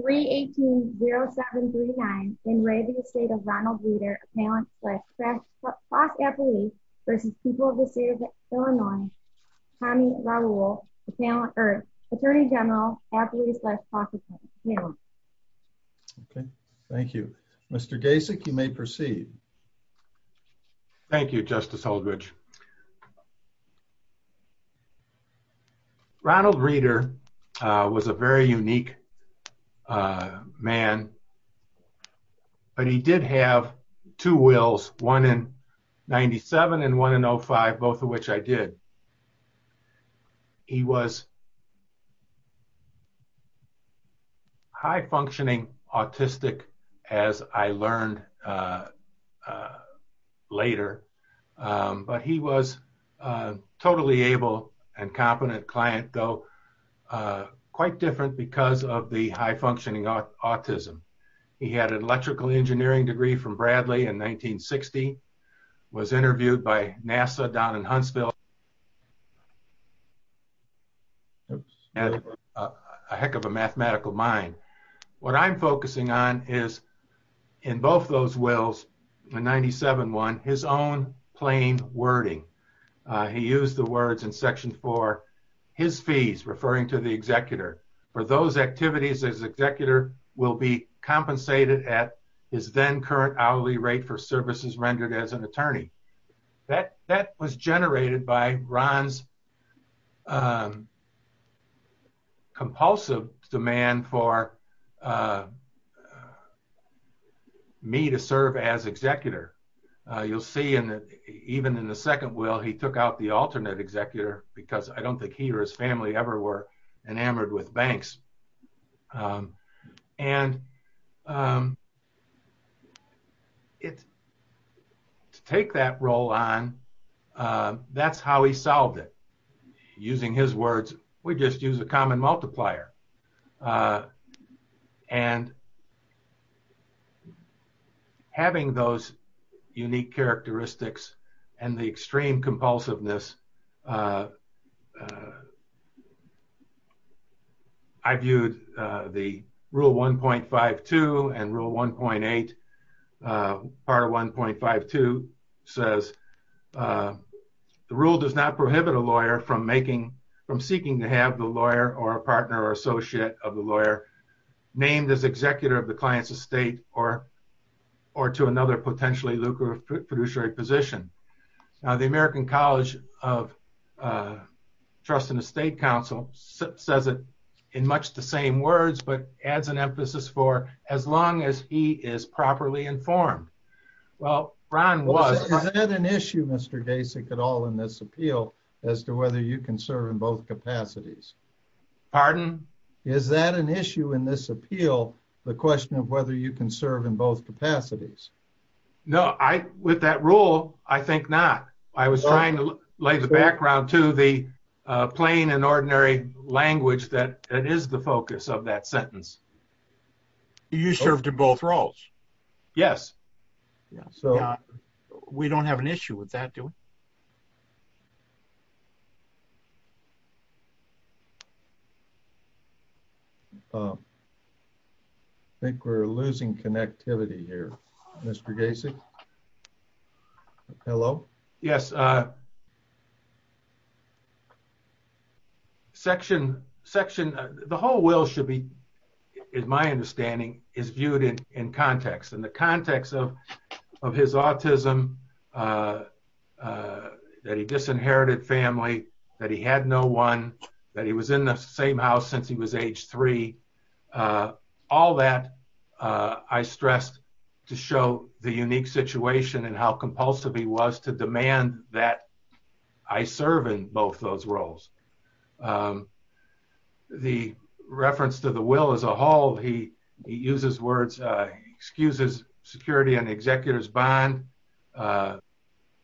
318-0739 in re Estate of Ronald Reeder, appellant-less, cross-appellee vs. People of the State of Illinois, Tommy Raul, attorney-general, appellee-less, cross-appellant. Thank you. Mr. Gasek, you may proceed. Thank you, Justice Holdredge. Ronald Reeder was a very unique man, but he did have two wills, one in 97 and one in 05, both of which I did. He was high-functioning autistic, as I learned later, but he was a totally able and competent client, though quite different because of the high-functioning autism. He had an electrical engineering degree from Bradley in 1960, was interviewed by NASA down in Huntsville, and had a heck of a mathematical mind. What I'm focusing on is, in both those wills, in 97-01, his own plain wording. He used the words in Section 4, his fees, referring to the executor, for those activities his executor will be compensated at his then-current hourly rate for services rendered as an attorney. That was generated by Ron's compulsive demand for me to serve as executor. You'll see, even in the second will, he took out the alternate executor because I don't think he or his family ever were enamored with banks. To take that role on, that's how he solved it, using his words, we just use a common multiplier. Having those unique characteristics and the extreme compulsiveness, I viewed the Rule 1.52 and Rule 1.8, Part 1.52, says, The Rule does not prohibit a lawyer from seeking to have the lawyer or a partner or associate of the lawyer named as executor of the client's estate or to another potentially lucrative fiduciary position. The American College of Trust and Estate Council says it in much the same words, but adds an emphasis for, as long as he is properly informed. Is that an issue, Mr. Dasik, at all in this appeal, as to whether you can serve in both capacities? Pardon? Is that an issue in this appeal, the question of whether you can serve in both capacities? No, with that rule, I think not. I was trying to lay the background to the plain and ordinary language that is the focus of that sentence. You served in both roles? Yes. We don't have an issue with that, do we? I think we're losing connectivity here, Mr. Dasik. Hello? Yes. The whole will should be, in my understanding, is viewed in context. In the context of his autism, that he disinherited family, that he had no one, that he was in the same house since he was age three, all that I stressed to show the unique situation and how compulsive he was to demand that I serve in both those roles. The reference to the will as a whole, he uses words, he excuses security on the executor's bond.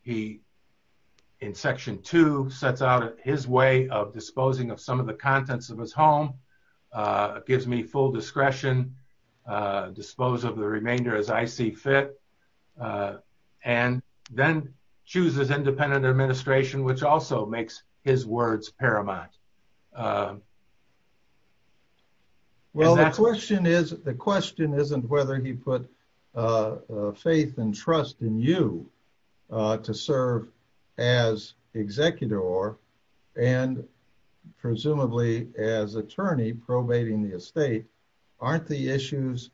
He, in section two, sets out his way of disposing of some of the contents of his home, gives me full discretion, dispose of the remainder as I see fit, and then chooses independent administration, which also makes his words paramount. Well, the question isn't whether he put faith and trust in you to serve as executor or, and presumably as attorney probating the estate, aren't the issues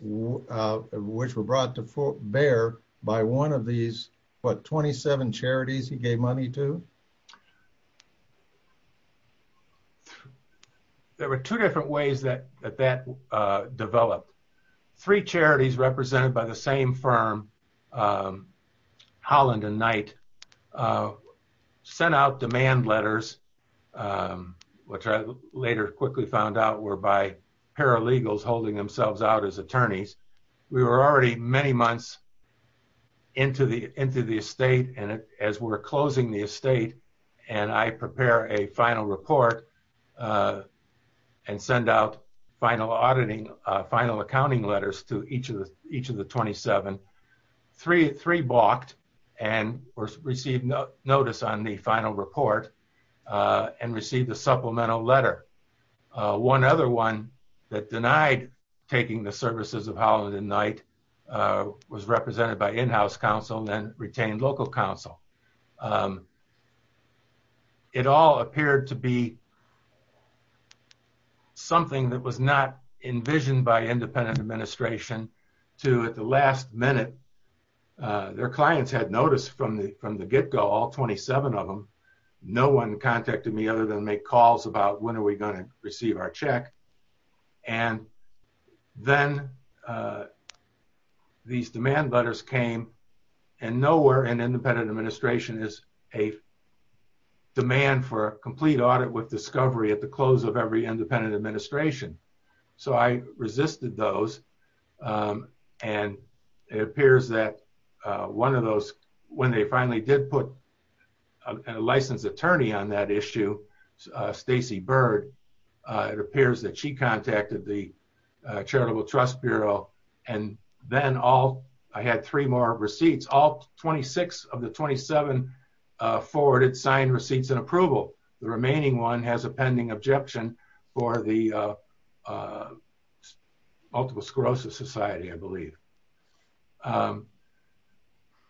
which were brought to bear by one of these, what, 27 charities he gave money to? There were two different ways that that developed. Three charities represented by the same firm, Holland and Knight, sent out demand letters, which I later quickly found out were by paralegals holding themselves out as attorneys. We were already many months into the estate, and as we're closing the estate, and I prepare a final report and send out final auditing, final accounting letters to each of the 27, three balked and received notice on the final report and received a supplemental letter. One other one that denied taking the services of Holland and Knight was represented by in-house counsel and retained local counsel. It all appeared to be something that was not envisioned by independent administration to, at the last minute, their clients had noticed from the get-go, all 27 of them, no one contacted me other than make calls about when are we going to receive our check. And then these demand letters came, and nowhere in independent administration is a demand for a complete audit with discovery at the close of every independent administration. So I resisted those, and it appears that one of those, when they finally did put a licensed attorney on that issue, Stacey Bird, it appears that she contacted the Charitable Trust Bureau, and then all, I had three more receipts, all 26 of the 27 forwarded signed receipts in approval. The remaining one has a pending objection for the Multiple Sclerosis Society, I believe.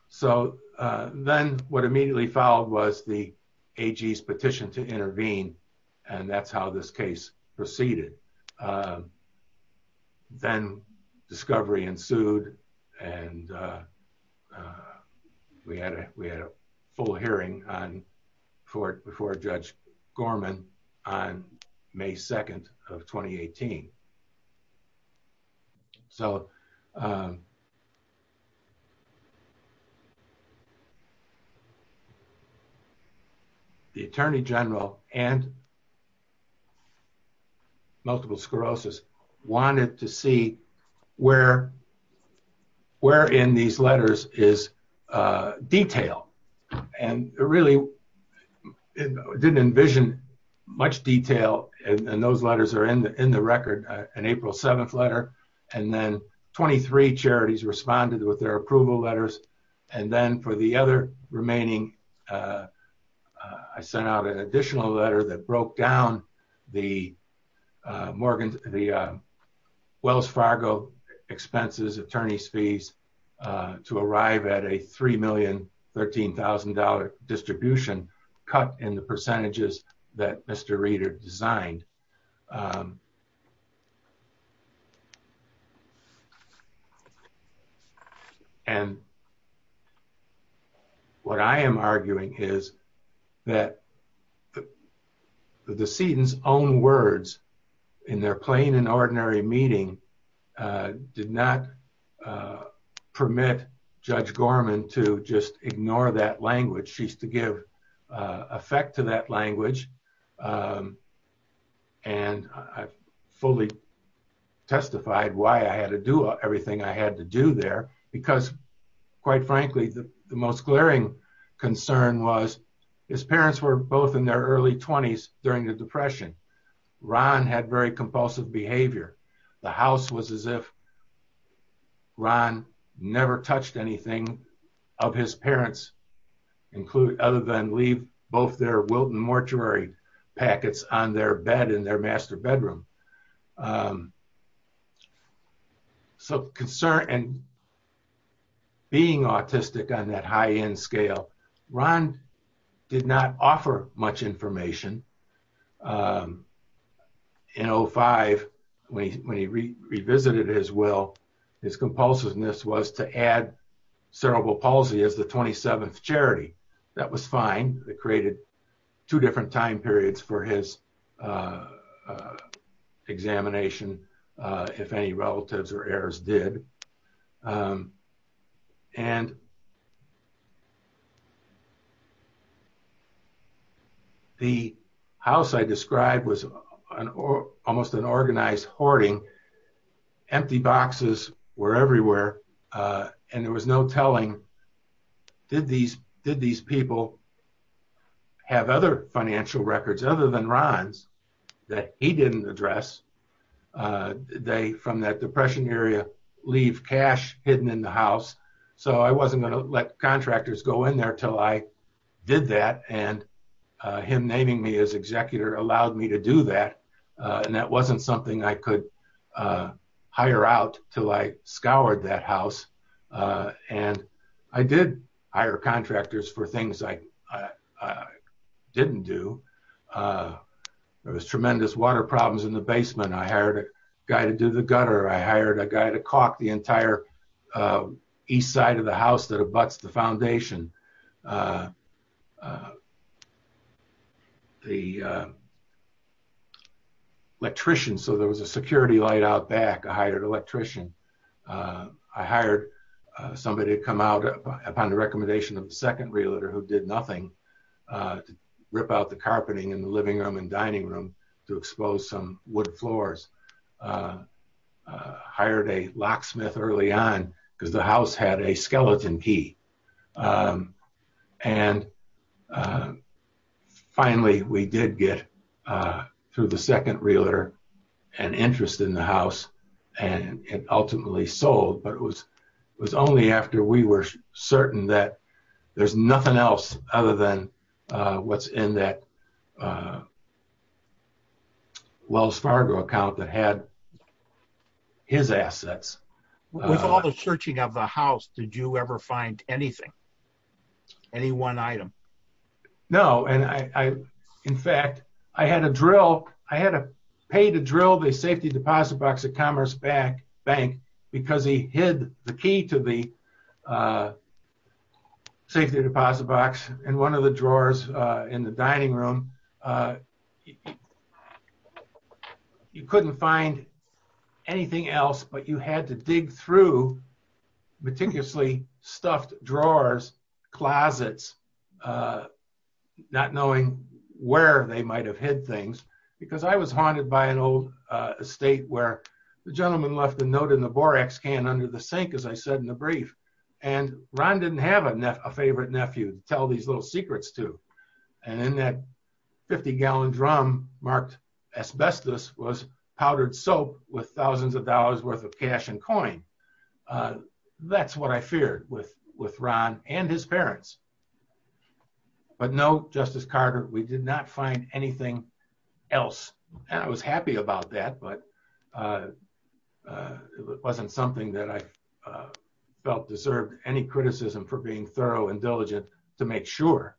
So then what immediately followed was the AG's petition to intervene, and that's how this case proceeded. Then discovery ensued, and we had a full hearing before Judge Gorman on May 2nd of 2018. So the Attorney General and Multiple Sclerosis wanted to see where in these letters is detail, and really didn't envision much detail, and those letters are in the record, an April 7th letter. And then 23 charities responded with their approval letters, and then for the other remaining, I sent out an additional letter that broke down the Wells Fargo expenses, attorney's fees, to arrive at a $3,013,000 distribution cut in the percentages that Mr. Reeder designed. And what I am arguing is that the decedent's own words in their plain and ordinary meeting did not permit Judge Gorman to just ignore that language. And I fully testified why I had to do everything I had to do there, because quite frankly, the most glaring concern was his parents were both in their early 20s during the Depression. Ron had very compulsive behavior. The house was as if Ron never touched anything of his parents, other than leave both their Wilton mortuary packets on their bed in their master bedroom. So being autistic on that high-end scale, Ron did not offer much information. In 05, when he revisited his will, his compulsiveness was to add cerebral palsy as the 27th charity. That was fine. It created two different time periods for his examination, if any relatives or heirs did. And the house I described was almost an organized hoarding. Empty boxes were everywhere, and there was no telling, did these people have other financial records other than Ron's that he didn't address? They, from that Depression era, leave cash hidden in the house. So I wasn't going to let contractors go in there until I did that, and him naming me as executor allowed me to do that. And that wasn't something I could hire out until I scoured that house. And I did hire contractors for things I didn't do. There was tremendous water problems in the basement. I hired a guy to do the gutter. I hired a guy to caulk the entire east side of the house that abuts the foundation. I hired an electrician, so there was a security light out back. I hired an electrician. I hired somebody to come out upon the recommendation of the second realtor, who did nothing, to rip out the carpeting in the living room and dining room to expose some wood floors. I hired a locksmith early on because the house had a skeleton key. And finally, we did get, through the second realtor, an interest in the house, and it ultimately sold. But it was only after we were certain that there's nothing else other than what's in that Wells Fargo account that had his assets. With all the searching of the house, did you ever find anything? Any one item? No. In fact, I had to pay to drill the safety deposit box at Commerce Bank because he hid the key to the safety deposit box in one of the drawers in the dining room. You couldn't find anything else, but you had to dig through meticulously stuffed drawers, closets, not knowing where they might have hid things, because I was haunted by an old estate where the gentleman left a note in the Borax can under the sink, as I said in the brief. And Ron didn't have a favorite nephew to tell these little secrets to. And in that 50-gallon drum marked asbestos was powdered soap with thousands of dollars worth of cash and coin. That's what I feared with Ron and his parents. But no, Justice Carter, we did not find anything else. And I was happy about that, but it wasn't something that I felt deserved any criticism for being thorough and diligent to make sure.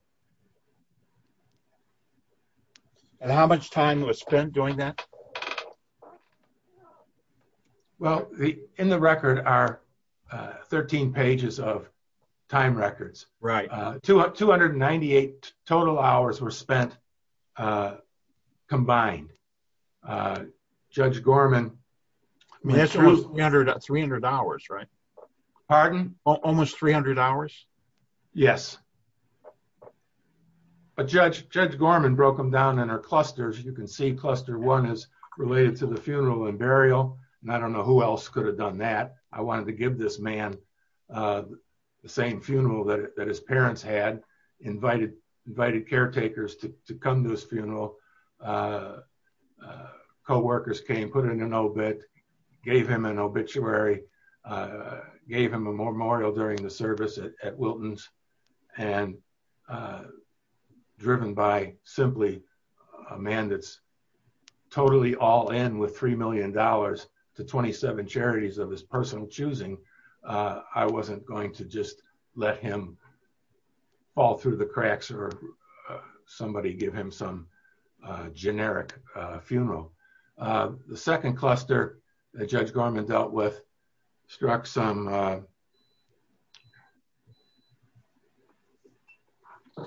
And how much time was spent doing that? Well, in the record are 13 pages of time records. 298 total hours were spent combined. Judge Gorman— That's almost 300 hours, right? Pardon? Almost 300 hours? Yes. But Judge Gorman broke them down into clusters. You can see cluster one is related to the funeral and burial. And I don't know who else could have done that. I wanted to give this man the same funeral that his parents had, invited caretakers to come to his funeral. Co-workers came, put in an obit, gave him an obituary, gave him a memorial during the service at Wilton's, and driven by simply a man that's totally all in with $3 million to 27 charities of his personal choosing. I wasn't going to just let him fall through the cracks or somebody give him some generic funeral. The second cluster that Judge Gorman dealt with struck some— The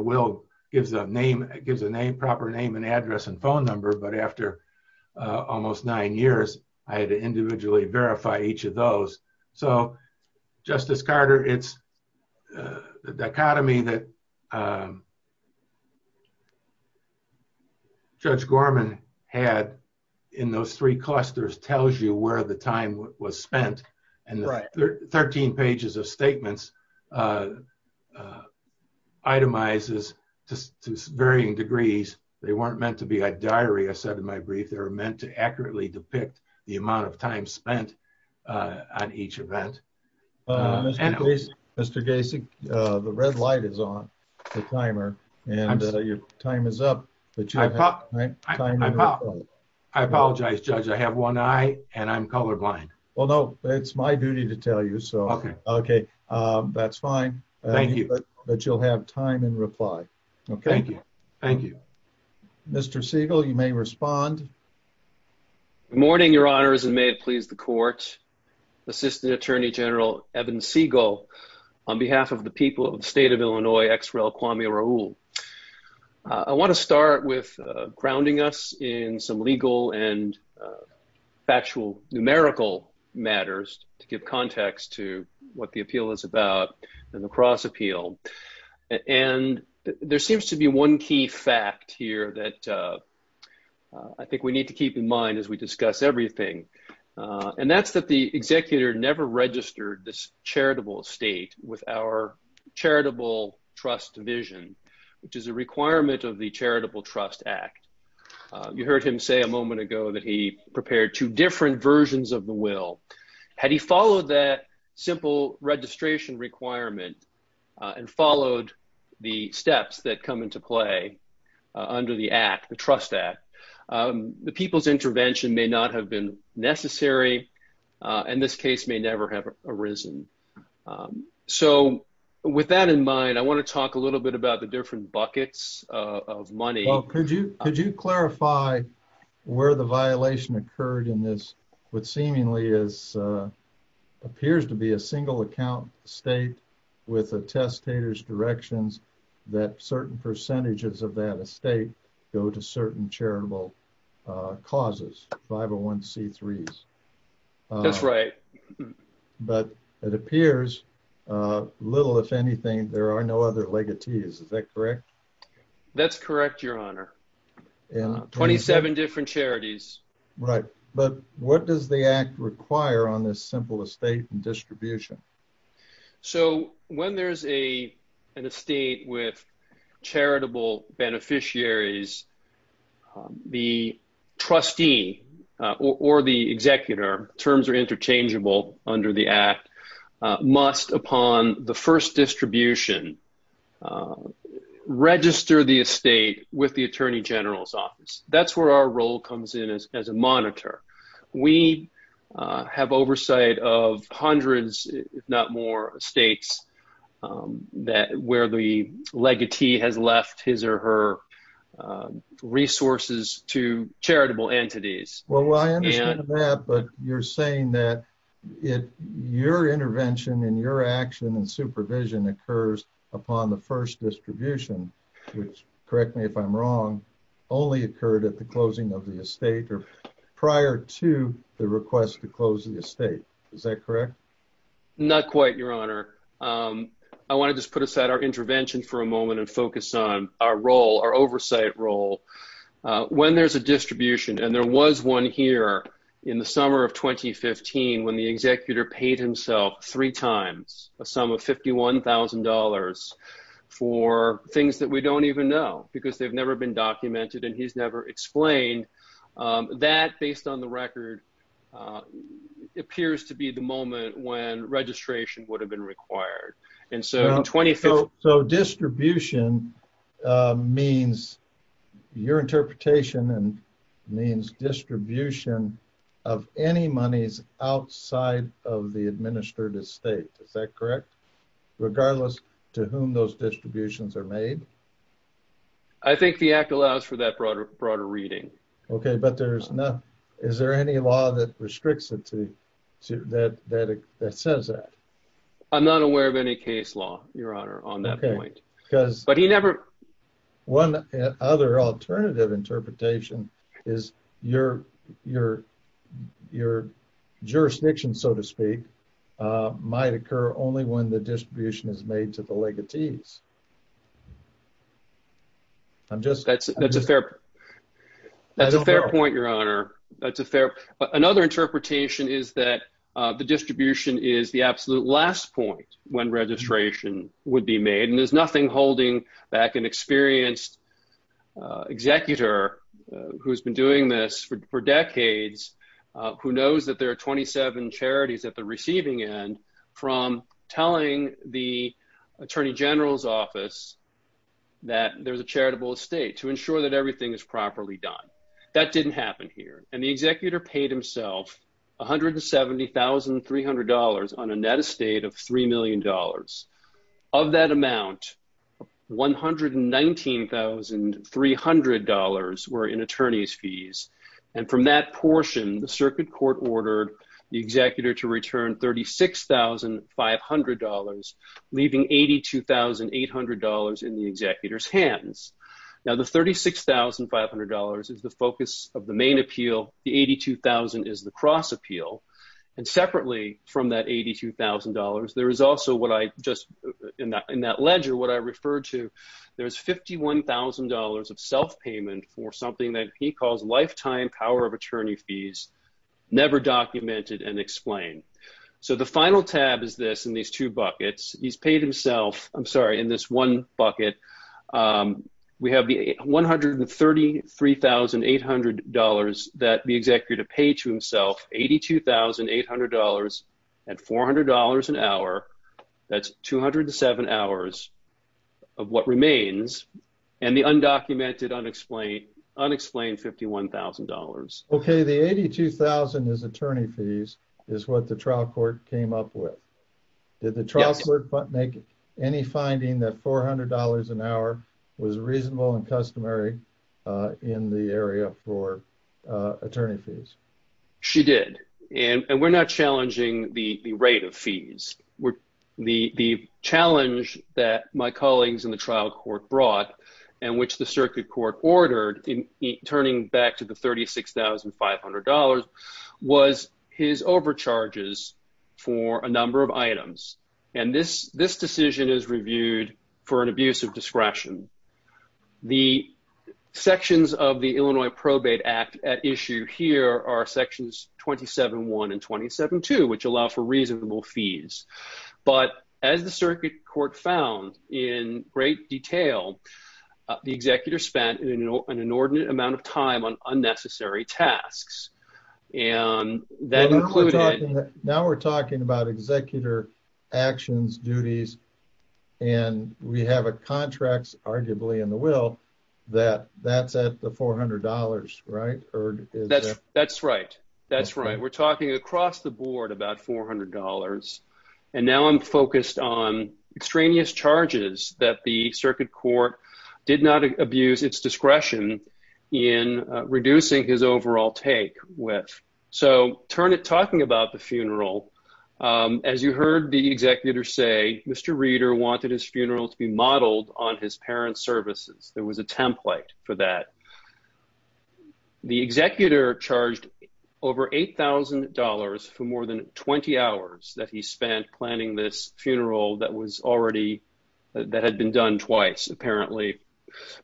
will gives a proper name and address and phone number, but after almost nine years, I had to individually verify each of those. So, Justice Carter, it's the dichotomy that Judge Gorman had in those three clusters tells you where the time was spent. Right. Thirteen pages of statements itemizes to varying degrees. They weren't meant to be a diary, I said in my brief. They were meant to accurately depict the amount of time spent on each event. Mr. Gacy, the red light is on, the timer, and your time is up. I apologize, Judge. I have one eye and I'm colorblind. Well, no, it's my duty to tell you, so. Okay. Okay, that's fine. Thank you. But you'll have time in reply. Okay. Thank you. Thank you. Mr. Siegel, you may respond. Good morning, Your Honors, and may it please the Court. Assistant Attorney General Evan Siegel, on behalf of the people of the state of Illinois, ex rel. Kwame Raoul. I want to start with grounding us in some legal and factual, numerical matters to give context to what the appeal is about, the La Crosse appeal. And there seems to be one key fact here that I think we need to keep in mind as we discuss everything, and that's that the executor never registered this charitable estate with our charitable trust division, which is a requirement of the Charitable Trust Act. You heard him say a moment ago that he prepared two different versions of the will. Had he followed that simple registration requirement and followed the steps that come into play under the Act, the Trust Act, the people's intervention may not have been necessary, and this case may never have arisen. So with that in mind, I want to talk a little bit about the different buckets of money. Well, could you clarify where the violation occurred in this what seemingly appears to be a single account estate with a testator's directions that certain percentages of that estate go to certain charitable causes, 501c3s? That's right. But it appears little, if anything, there are no other legatees. Is that correct? That's correct, Your Honor. 27 different charities. Right. But what does the Act require on this simple estate and distribution? So when there's an estate with charitable beneficiaries, the trustee or the executor, terms are interchangeable under the Act, must, upon the first distribution, register the estate with the Attorney General's office. That's where our role comes in as a monitor. We have oversight of hundreds, if not more, estates where the legatee has left his or her resources to charitable entities. Well, I understand that, but you're saying that your intervention and your action and supervision occurs upon the first distribution, which, correct me if I'm wrong, only occurred at the closing of the estate or prior to the request to close the estate. Is that correct? Not quite, Your Honor. I want to just put aside our intervention for a moment and focus on our role, our oversight role. When there's a distribution, and there was one here in the summer of 2015 when the executor paid himself three times a sum of $51,000 for things that we don't even know because they've never been documented and he's never explained, that, based on the record, appears to be the moment when registration would have been required. So distribution means, your interpretation means distribution of any monies outside of the administered estate. Is that correct? Regardless to whom those distributions are made? I think the Act allows for that broader reading. Okay, but is there any law that restricts it that says that? I'm not aware of any case law, Your Honor, on that point. Okay, because one other alternative interpretation is your jurisdiction, so to speak, might occur only when the distribution is made to the legatees. That's a fair point, Your Honor. Another interpretation is that the distribution is the absolute last point when registration would be made. And there's nothing holding back an experienced executor who's been doing this for decades, who knows that there are 27 charities at the receiving end, from telling the Attorney General's office that there's a charitable estate to ensure that everything is properly done. That didn't happen here. And the executor paid himself $170,300 on a net estate of $3 million. Of that amount, $119,300 were in attorney's fees. And from that portion, the circuit court ordered the executor to return $36,500, leaving $82,800 in the executor's hands. Now the $36,500 is the focus of the main appeal, the $82,000 is the cross appeal. And separately from that $82,000, there is also what I just, in that ledger, what I referred to, there's $51,000 of self-payment for something that he calls lifetime power of attorney fees, never documented and explained. So the final tab is this, in these two buckets, he's paid himself, I'm sorry, in this one bucket, we have the $133,800 that the executor paid to himself, $82,800 at $400 an hour, that's 207 hours of what remains, and the undocumented, unexplained $51,000. Okay, the $82,000 is attorney fees, is what the trial court came up with. Did the trial court make any finding that $400 an hour was reasonable and customary in the area for attorney fees? She did. And we're not challenging the rate of fees. The challenge that my colleagues in the trial court brought, and which the circuit court ordered, turning back to the $36,500, was his overcharges for a number of items. And this decision is reviewed for an abuse of discretion. The sections of the Illinois Probate Act at issue here are sections 27.1 and 27.2, which allow for reasonable fees. But as the circuit court found in great detail, the executor spent an inordinate amount of time on unnecessary tasks. Now we're talking about executor actions, duties, and we have a contract arguably in the will that that's at the $400, right? That's right. That's right. We're talking across the board about $400. And now I'm focused on extraneous charges that the circuit court did not abuse its discretion in reducing his overall take with. So turn to talking about the funeral. As you heard the executor say, Mr. Reeder wanted his funeral to be modeled on his parents' services. There was a template for that. The executor charged over $8,000 for more than 20 hours that he spent planning this funeral that had been done twice, apparently,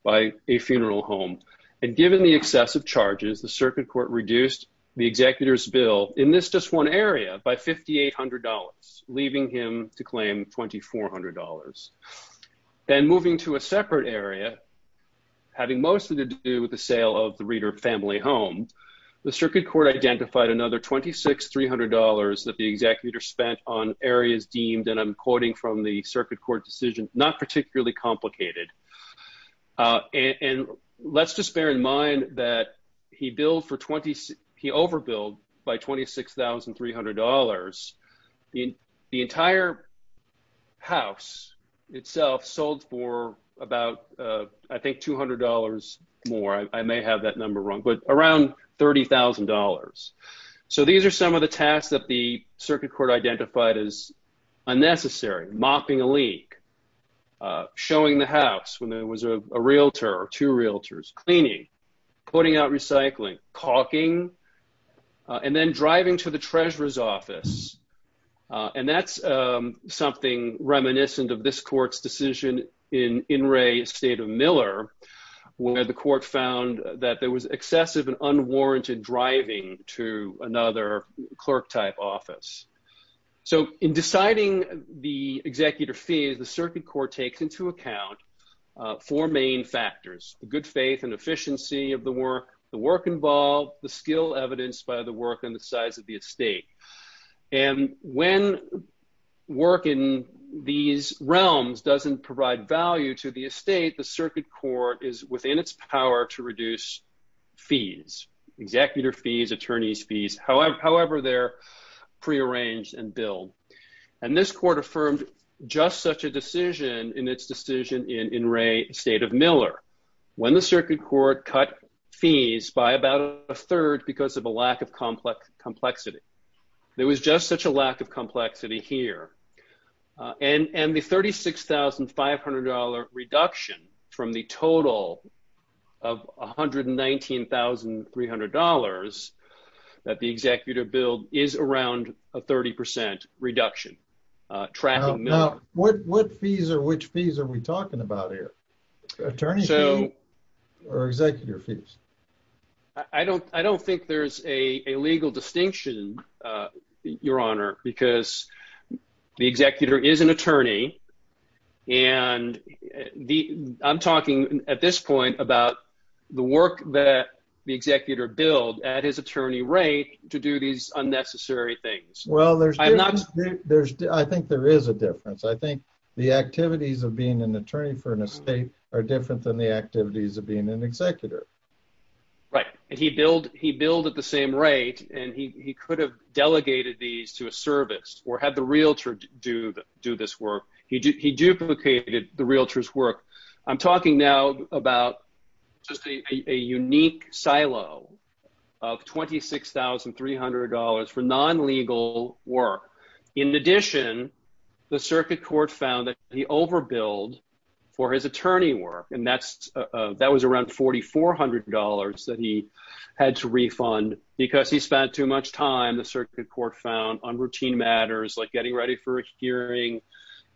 by a funeral home. And given the excessive charges, the circuit court reduced the executor's bill in this just one area by $5,800, leaving him to claim $2,400. Then moving to a separate area, having mostly to do with the sale of the Reeder family home, the circuit court identified another $2,600 that the executor spent on areas deemed, and I'm quoting from the circuit court decision, not particularly complicated. And let's just bear in mind that he overbilled by $26,300. The entire house itself sold for about, I think, $200 more. I may have that number wrong, but around $30,000. So these are some of the tasks that the circuit court identified as unnecessary, mopping a leak, showing the house when there was a realtor or two realtors, cleaning, putting out recycling, caulking, and then driving to the treasurer's office. And that's something reminiscent of this court's decision in In re State of Miller, where the court found that there was excessive and unwarranted driving to another clerk type office. So in deciding the executor fees, the circuit court takes into account four main factors, the good faith and efficiency of the work, the work involved, the skill evidenced by the work and the size of the estate. And when work in these realms doesn't provide value to the estate, the circuit court is within its power to reduce fees, executor fees, attorney's fees, however they're prearranged and billed. And this court affirmed just such a decision in its decision in re State of Miller, when the circuit court cut fees by about a third because of a lack of complexity. There was just such a lack of complexity here. And the $36,500 reduction from the total of $119,300 that the executor billed is around a 30% reduction tracking Miller. What fees or which fees are we talking about here? Attorney's fees or executor fees? I don't think there's a legal distinction, Your Honor, because the executor is an attorney. And I'm talking at this point about the work that the executor billed at his attorney rate to do these unnecessary things. I think there is a difference. I think the activities of being an attorney for an estate are different than the activities of being an executor. Right. And he billed at the same rate, and he could have delegated these to a service or had the realtor do this work. He duplicated the realtor's work. I'm talking now about just a unique silo of $26,300 for non-legal work. In addition, the circuit court found that he overbilled for his attorney work, and that was around $4,400 that he had to refund because he spent too much time, the circuit court found, on routine matters like getting ready for a hearing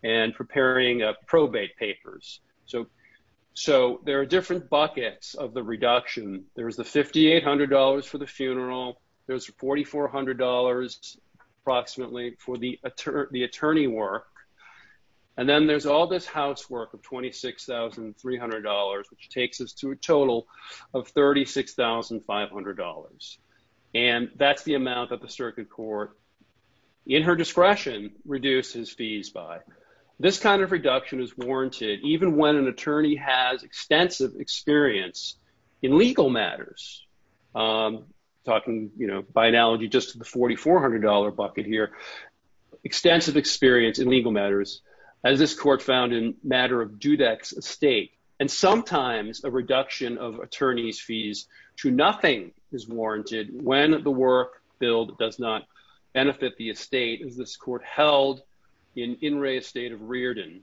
and preparing probate papers. So there are different buckets of the reduction. There's the $5,800 for the funeral. There's $4,400 approximately for the attorney work. And then there's all this housework of $26,300, which takes us to a total of $36,500. And that's the amount that the circuit court, in her discretion, reduced his fees by. This kind of reduction is warranted even when an attorney has extensive experience in legal matters. I'm talking, by analogy, just to the $4,400 bucket here. Extensive experience in legal matters, as this court found in the matter of Dudek's estate. And sometimes a reduction of attorney's fees to nothing is warranted when the work billed does not benefit the estate, as this court held in In re Estate of Riordan.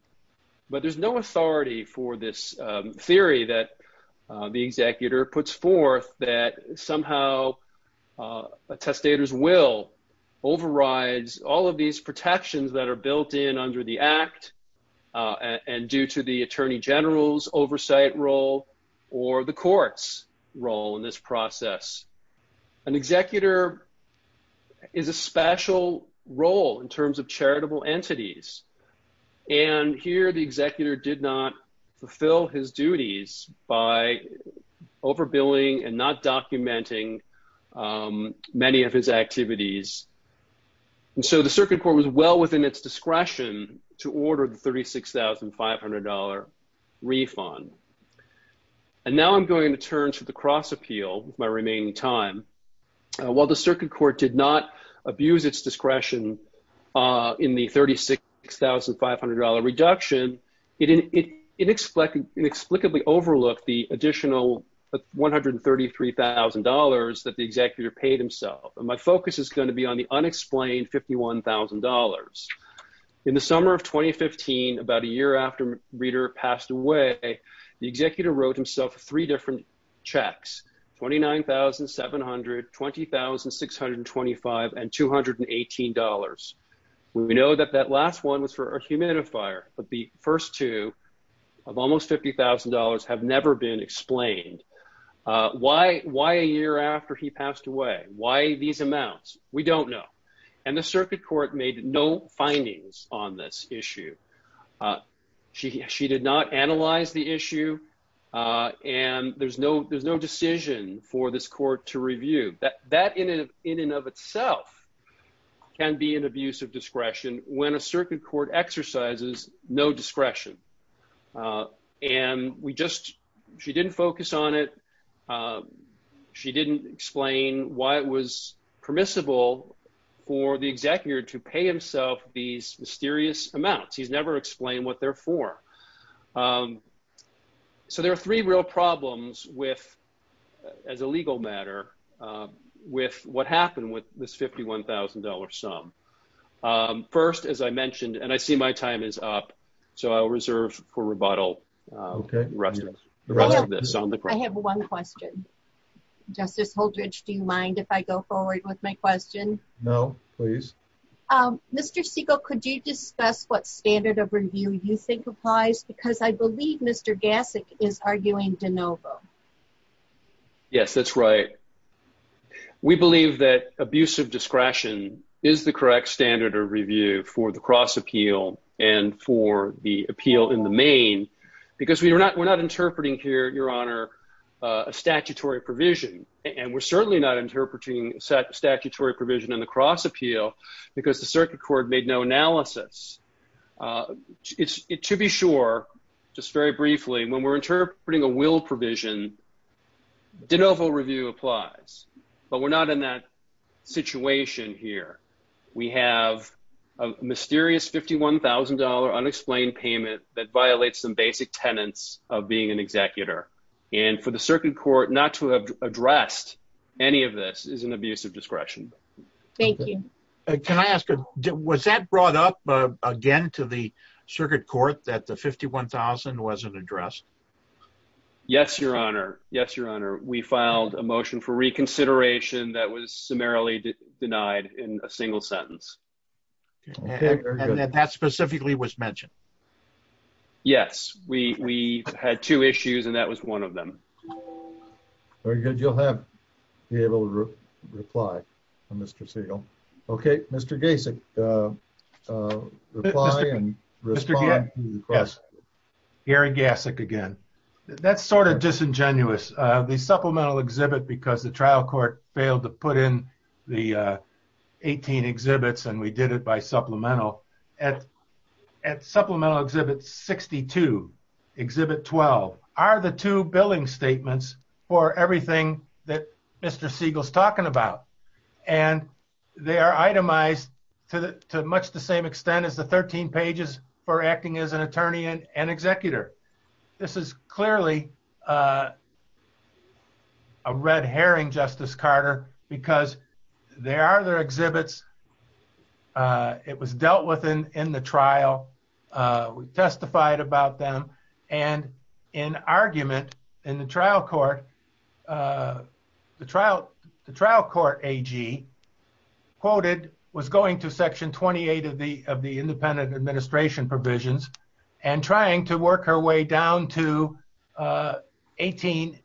But there's no authority for this theory that the executor puts forth that somehow a testator's will overrides all of these protections that are built in under the Act. And due to the Attorney General's oversight role or the court's role in this process. An executor is a special role in terms of charitable entities. And here the executor did not fulfill his duties by overbilling and not documenting many of his activities. And so the circuit court was well within its discretion to order the $36,500 refund. And now I'm going to turn to the cross appeal with my remaining time. While the circuit court did not abuse its discretion in the $36,500 reduction, it inexplicably overlooked the additional $133,000 that the executor paid himself. And my focus is going to be on the unexplained $51,000. In the summer of 2015, about a year after Reeder passed away, the executor wrote himself three different checks $29,700 $20,625 and $218. We know that that last one was for a humidifier, but the first two of almost $50,000 have never been explained. Why, why a year after he passed away, why these amounts, we don't know. And the circuit court made no findings on this issue. She did not analyze the issue. And there's no there's no decision for this court to review that that in in and of itself can be an abuse of discretion, when a circuit court exercises, no discretion. And we just, she didn't focus on it. She didn't explain why it was permissible for the executor to pay himself these mysterious amounts he's never explained what they're for. So there are three real problems with as a legal matter with what happened with this $51,000 sum. First, as I mentioned, and I see my time is up. So I'll reserve for rebuttal. I have one question. Justice Holdridge, do you mind if I go forward with my question? No, please. Mr. Segal, could you discuss what standard of review you think applies because I believe Mr. Gassick is arguing de novo. Yes, that's right. We believe that abuse of discretion is the correct standard of review for the cross appeal and for the appeal in the main, because we are not we're not interpreting here, Your Honor, a statutory provision. And we're certainly not interpreting statutory provision in the cross appeal because the circuit court made no analysis. To be sure, just very briefly, when we're interpreting a will provision de novo review applies, but we're not in that situation here. We have a mysterious $51,000 unexplained payment that violates some basic tenets of being an executor and for the circuit court not to have addressed any of this is an abuse of discretion. Thank you. Can I ask, was that brought up again to the circuit court that the $51,000 wasn't addressed? Yes, Your Honor. Yes, Your Honor. We filed a motion for reconsideration that was summarily denied in a single sentence. And that specifically was mentioned. Yes, we had two issues and that was one of them. Very good. You'll have to be able to reply, Mr. Segal. Okay, Mr. Gasek. Gary Gasek again. That's sort of disingenuous. The supplemental exhibit because the trial court failed to put in the 18 exhibits and we did it by supplemental. At supplemental exhibit 62, exhibit 12 are the two billing statements for everything that Mr. Segal is talking about. And they are itemized to much the same extent as the 13 pages for acting as an attorney and an executor. This is clearly a red herring, Justice Carter, because there are other exhibits. It was dealt with in the trial. We testified about them. And in argument in the trial court, the trial court AG quoted was going to Section 28 of the of the independent administration provisions and trying to work her way down to 18-8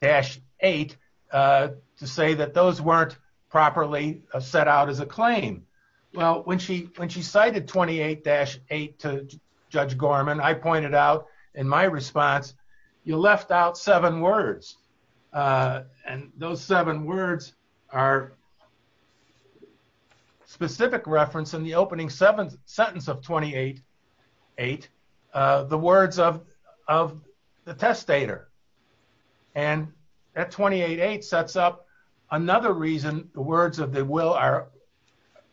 To say that those weren't properly set out as a claim. Well, when she when she cited 28-8 to Judge Gorman, I pointed out in my response, you left out seven words. And those seven words are Specific reference in the opening seven sentence of 28-8 the words of the testator And that 28-8 sets up another reason the words of the will are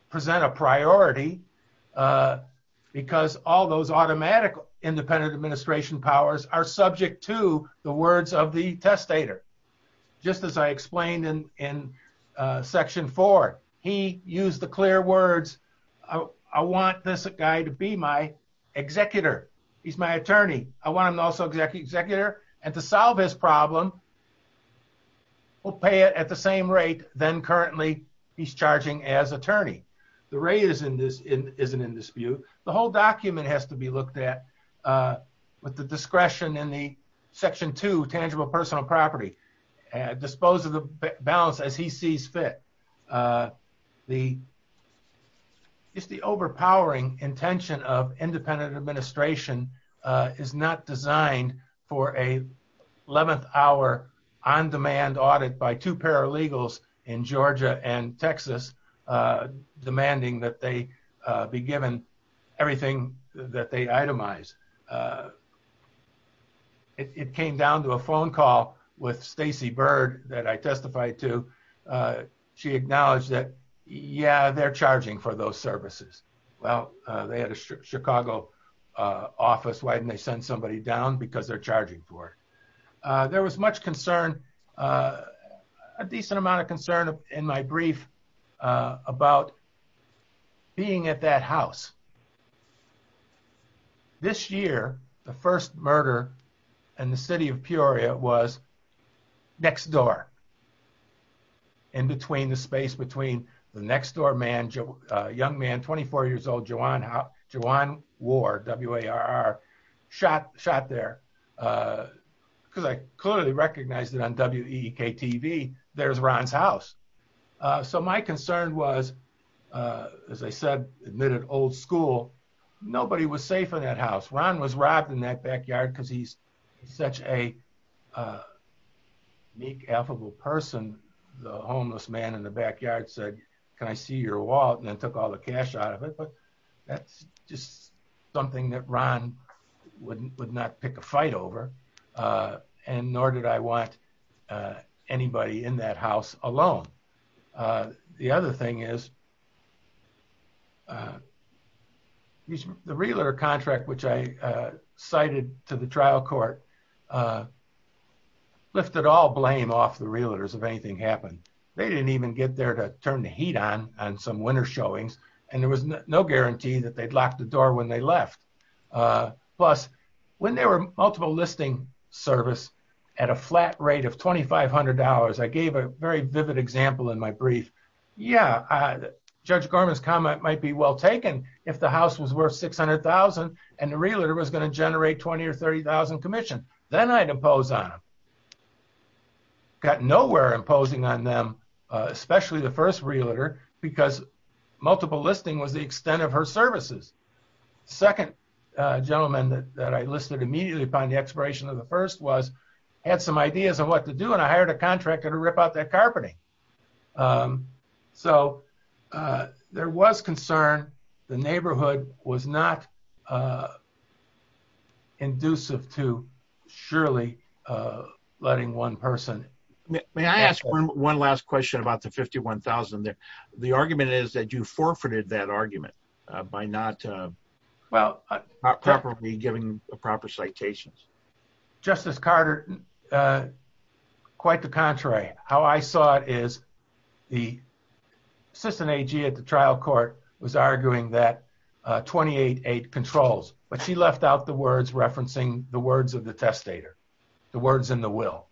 present a priority. Because all those automatic independent administration powers are subject to the words of the testator. Just as I explained in in section four, he used the clear words. I want this guy to be my executor. He's my attorney. I want him to also execute executor and to solve this problem. We'll pay it at the same rate, then currently he's charging as attorney. The rate isn't in dispute. The whole document has to be looked at With the discretion in the section two tangible personal property and dispose of the balance as he sees fit. The It's the overpowering intention of independent administration is not designed for a 11th hour on demand audit by two paralegals in Georgia and Texas demanding that they be given everything that they itemize It came down to a phone call with Stacey Bird that I testified to She acknowledged that, yeah, they're charging for those services. Well, they had a Chicago office. Why didn't they send somebody down because they're charging for there was much concern. A decent amount of concern in my brief about Being at that house. This year, the first murder and the city of Peoria was next door. In between the space between the next door man Joe young man 24 years old, Joanne. Joanne Ward Warr shot shot there. Because I clearly recognized it on WKTV there's Ron's house. So my concern was As I said, admitted old school. Nobody was safe in that house. Ron was robbed in that backyard because he's such a Meek affable person, the homeless man in the backyard said, Can I see your wallet and then took all the cash out of it, but that's just something that Ron wouldn't would not pick a fight over And nor did I want Anybody in that house alone. The other thing is The realtor contract which I cited to the trial court. Lifted all blame off the realtors, if anything happened. They didn't even get there to turn the heat on on some winter showings and there was no guarantee that they'd locked the door when they left. Plus, when they were multiple listing service at a flat rate of $2,500 I gave a very vivid example in my brief. Yeah. Judge Gorman's comment might be well taken. If the house was worth 600,000 and the realtor was going to generate 20 or 30,000 Commission, then I'd impose on Got nowhere imposing on them, especially the first realtor because multiple listing was the extent of her services. Second gentleman that I listed immediately upon the expiration of the first was had some ideas on what to do. And I hired a contractor to rip out that carpeting So there was concern the neighborhood was not Inducive to surely letting one person May I ask one last question about the 51,000 that the argument is that you forfeited that argument by not Well, I probably giving a proper citations Justice Carter. Quite the contrary. How I saw it is the system at the trial court was arguing that 28 eight controls, but she left out the words referencing the words of the testator. The words in the will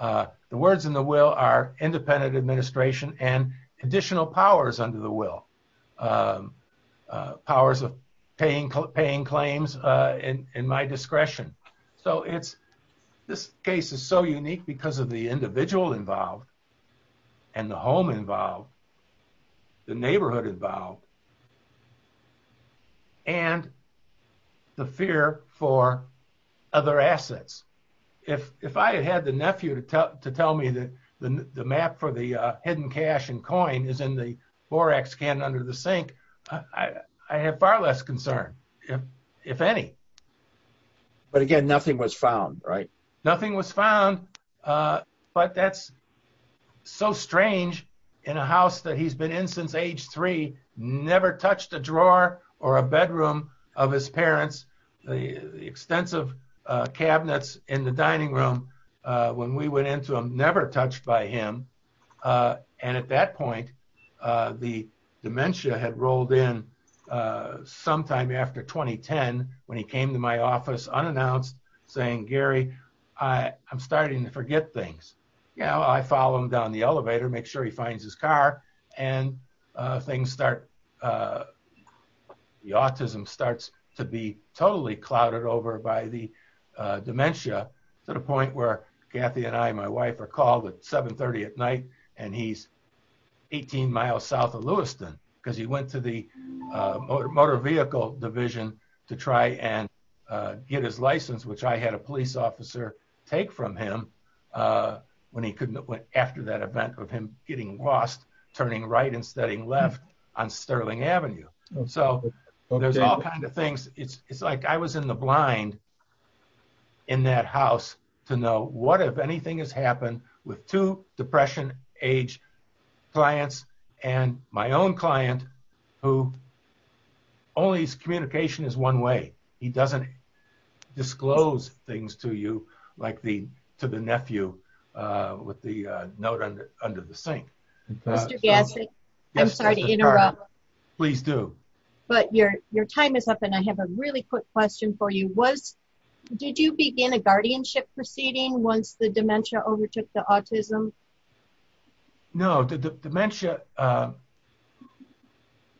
The words in the will are independent administration and additional powers under the will Powers of paying paying claims in my discretion. So it's this case is so unique because of the individual involved. And the home involved. The neighborhood involved. And The fear for other assets. If, if I had the nephew to tell me that the map for the hidden cash and coin is in the borax can under the sink. I have far less concern if if any But again, nothing was found right Nothing was found But that's so strange in a house that he's been in since age three never touched a drawer or a bedroom of his parents, the extensive cabinets in the dining room. When we went into him never touched by him. And at that point, the dementia had rolled in sometime after 2010 when he came to my office unannounced saying Gary, I am starting to forget things. Yeah, I follow him down the elevator. Make sure he finds his car and things start The autism starts to be totally clouded over by the dementia to the point where Kathy and I, my wife are called at 730 at night and he's 18 miles south of Lewiston because he went to the motor vehicle division to try and get his license, which I had a police officer take from him. When he couldn't went after that event with him getting lost turning right and studying left on Sterling Avenue. So there's all kinds of things. It's like I was in the blind. In that house to know what if anything has happened with to depression age clients and my own client who Only his communication is one way he doesn't disclose things to you like the to the nephew with the note under under the sink. I'm sorry to interrupt. Please do. But your, your time is up. And I have a really quick question for you was, did you begin a guardianship proceeding once the dementia overtook the autism. No, the dementia.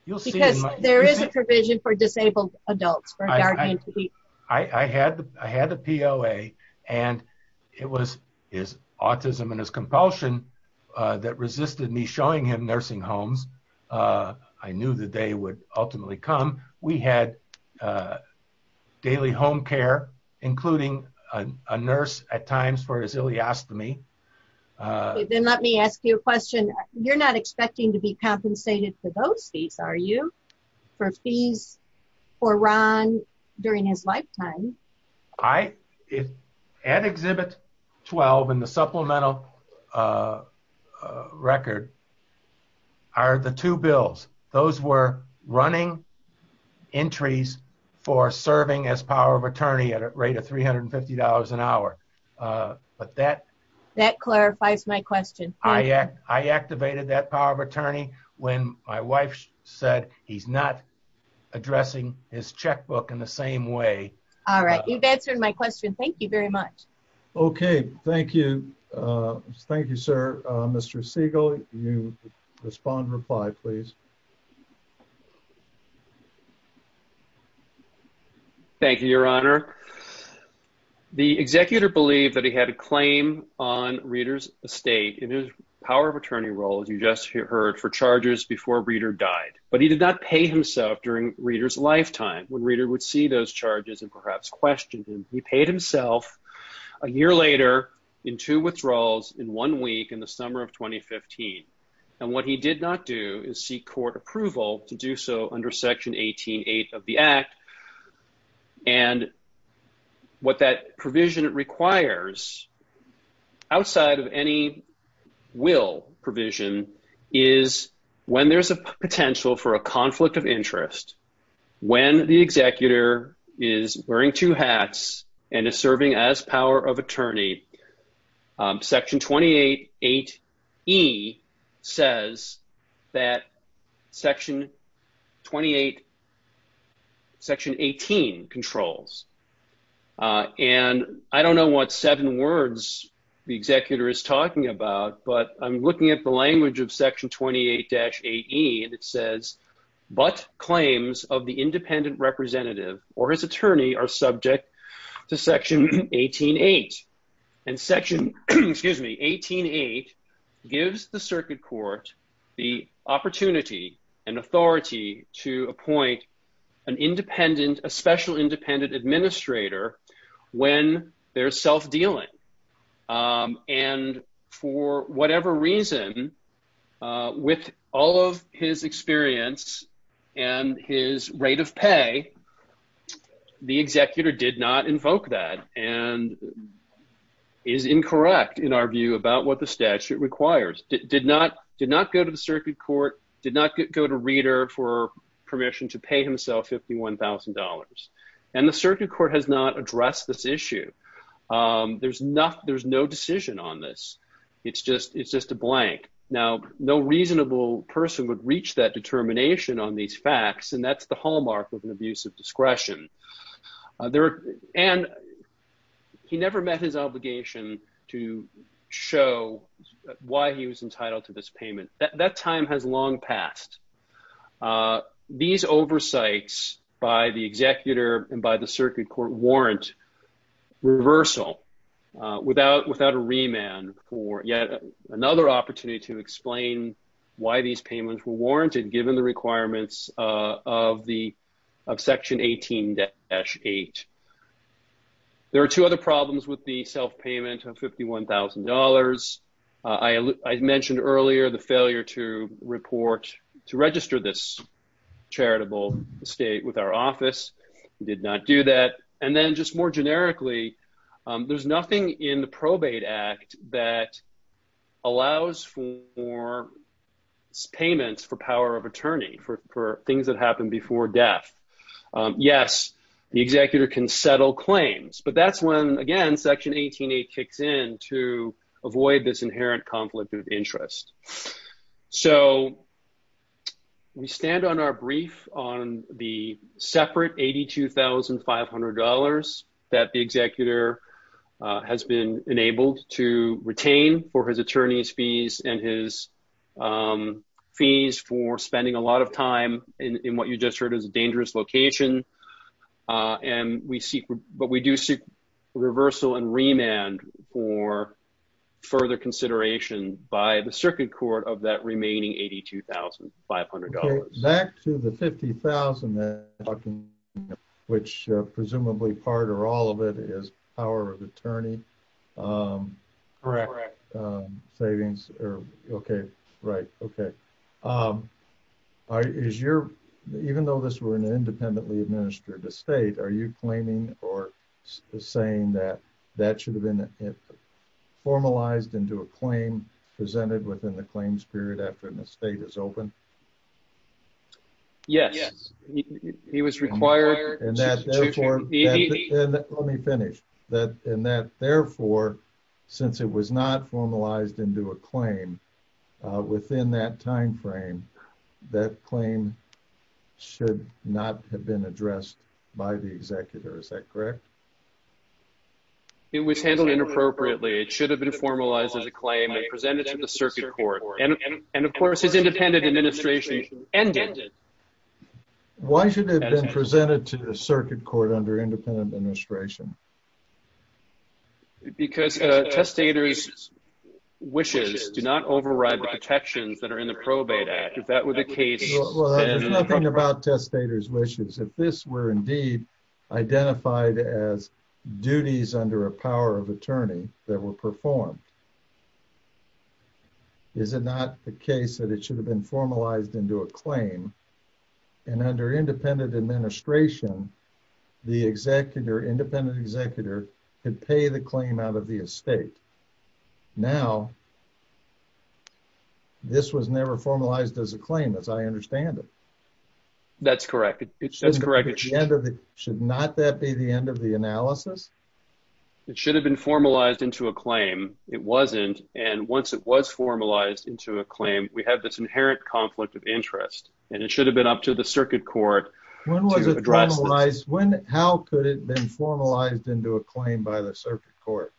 You'll see there is a provision for disabled adults. I had, I had a POA and it was his autism and his compulsion that resisted me showing him nursing homes. I knew the day would ultimately come. We had Daily home care, including a nurse at times for his iliostomy Then let me ask you a question. You're not expecting to be compensated for those fees. Are you for fees for Ron during his lifetime. I if an exhibit 12 and the supplemental Record. Are the two bills. Those were running entries for serving as power of attorney at a rate of $350 an hour. But that That clarifies my question. I, I activated that power of attorney when my wife said he's not addressing his checkbook in the same way. All right, you've answered my question. Thank you very much. Okay, thank you. Thank you, sir. Mr Siegel you respond reply, please. Thank you, Your Honor. The executor believed that he had a claim on readers estate in his power of attorney role as you just heard for charges before reader died, but he did not pay himself during readers lifetime when reader would see those charges and perhaps questioned him. He paid himself. A year later in two withdrawals in one week in the summer of 2015 and what he did not do is seek court approval to do so under Section 18 eight of the Act. And What that provision requires Outside of any will provision is when there's a potential for a conflict of interest when the executor is wearing two hats and is serving as power of attorney. Section 28 eight he says that section 28 Section 18 controls. And I don't know what seven words. The executor is talking about, but I'm looking at the language of section 28 dash eight he and it says But claims of the independent representative or his attorney are subject to section 18 eight and section, excuse me, 18 eight gives the circuit court, the opportunity and authority to appoint an independent a special independent administrator when they're self dealing. And for whatever reason, with all of his experience and his rate of pay. The executor did not invoke that and Is incorrect in our view about what the statute requires did not did not go to the circuit court did not get go to reader for permission to pay himself $51,000 and the circuit court has not addressed this issue. There's not, there's no decision on this. It's just, it's just a blank. Now, no reasonable person would reach that determination on these facts and that's the hallmark of an abuse of discretion. There and He never met his obligation to show why he was entitled to this payment that that time has long past These oversights by the executor and by the circuit court warrant reversal without without a remand for yet another opportunity to explain why these payments were warranted given the requirements of the of section 18 dash eight There are two other problems with the self payment of $51,000 I mentioned earlier, the failure to report to register this Charitable state with our office did not do that. And then just more generically, there's nothing in the probate act that allows for Payments for power of attorney for things that happened before death. Yes, the executor can settle claims, but that's when again section 18 eight kicks in to avoid this inherent conflict of interest so We stand on our brief on the separate $82,500 that the executor has been enabled to retain for his attorneys fees and his Fees for spending a lot of time in what you just heard is a dangerous location. And we seek, but we do seek reversal and remand for further consideration by the circuit court of that remaining $82,500 Back to the 50,000 Which presumably part or all of it is our attorney. Correct. Savings. Okay, right. Okay. Is your even though this were an independently administered the state. Are you claiming or saying that that should have been formalized into a claim presented within the claims period after the state is open. Yes, he was required Let me finish that in that therefore, since it was not formalized into a claim within that timeframe that claim should not have been addressed by the executor. Is that correct. It was handled inappropriately. It should have been formalized as a claim presented to the circuit court and and of course is independent administration ended Why should have been presented to the circuit court under independent administration. Because testators wishes do not override protections that are in the probate act. If that were the case. Nothing about testators wishes if this were indeed identified as duties under a power of attorney that were performed. Is it not the case that it should have been formalized into a claim and under independent administration, the executor independent executor and pay the claim out of the estate. Now, This was never formalized as a claim, as I understand it. That's correct. It's just correct. It should not that be the end of the analysis. It should have been formalized into a claim. It wasn't. And once it was formalized into a claim we have this inherent conflict of interest and it should have been up to the circuit court. When was it When, how could it been formalized into a claim by the circuit court.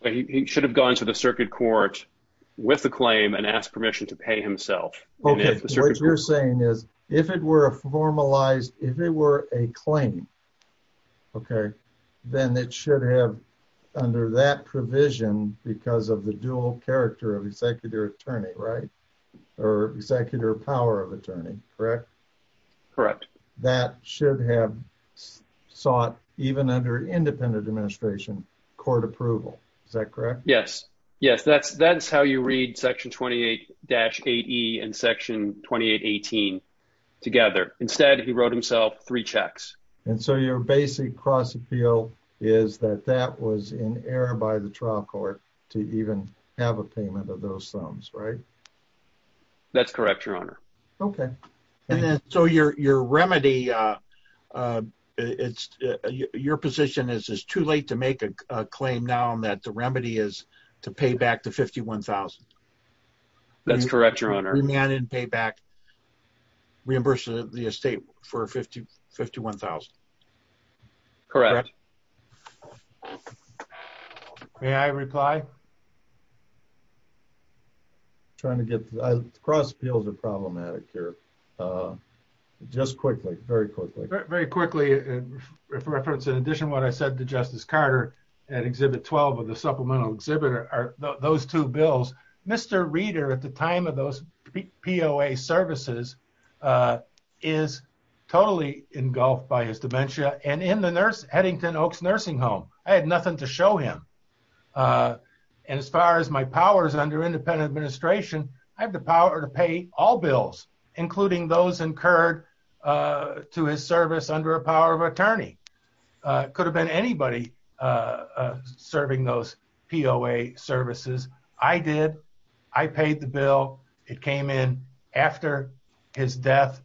It should have gone to the circuit court with the claim and ask permission to pay himself. Okay, so what you're saying is, if it were a formalized if it were a claim. Okay, then it should have under that provision because of the dual character of executive attorney right or executive power of attorney. Correct. That should have sought even under independent administration court approval. Is that correct, yes. Yes, that's, that's how you read section 28 dash at and section 2818 together. Instead, he wrote himself three checks. And so your basic cross appeal is that that was in error by the trial court to even have a payment of those sums right That's correct, Your Honor. Okay. So your, your remedy. It's your position is is too late to make a claim down that the remedy is to pay back to 51,000 That's correct, Your Honor. And pay back Reimburse the estate for 50 51,000 Correct. May I reply. Trying to get cross appeals are problematic here. Just quickly, very quickly. Very quickly. Reference. In addition, what I said to Justice Carter and exhibit 12 of the supplemental exhibitor are those two bills, Mr reader at the time of those POA services. Is totally engulfed by his dementia and in the nurse Headington Oaks nursing home. I had nothing to show him. And as far as my powers under independent administration. I have the power to pay all bills, including those incurred to his service under a power of attorney could have been anybody Serving those POA services. I did I paid the bill. It came in after his death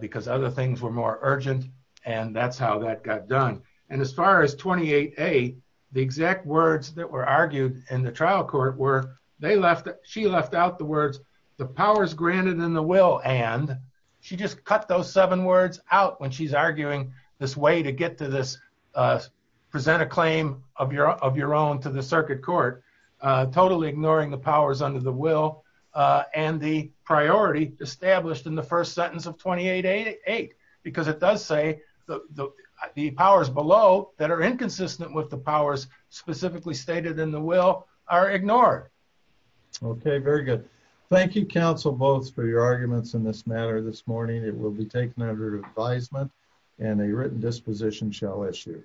because other things were more urgent. And that's how that got done. And as far as 28 a The exact words that were argued in the trial court where they left. She left out the words, the powers granted in the will and she just cut those seven words out when she's arguing this way to get to this. Present a claim of your of your own to the circuit court totally ignoring the powers under the will and the priority established in the first sentence of 2888 because it does say the powers below that are inconsistent with the powers specifically stated in the will are ignored. Okay, very good. Thank you counsel both for your arguments in this matter this morning, it will be taken under advisement and a written disposition shall issue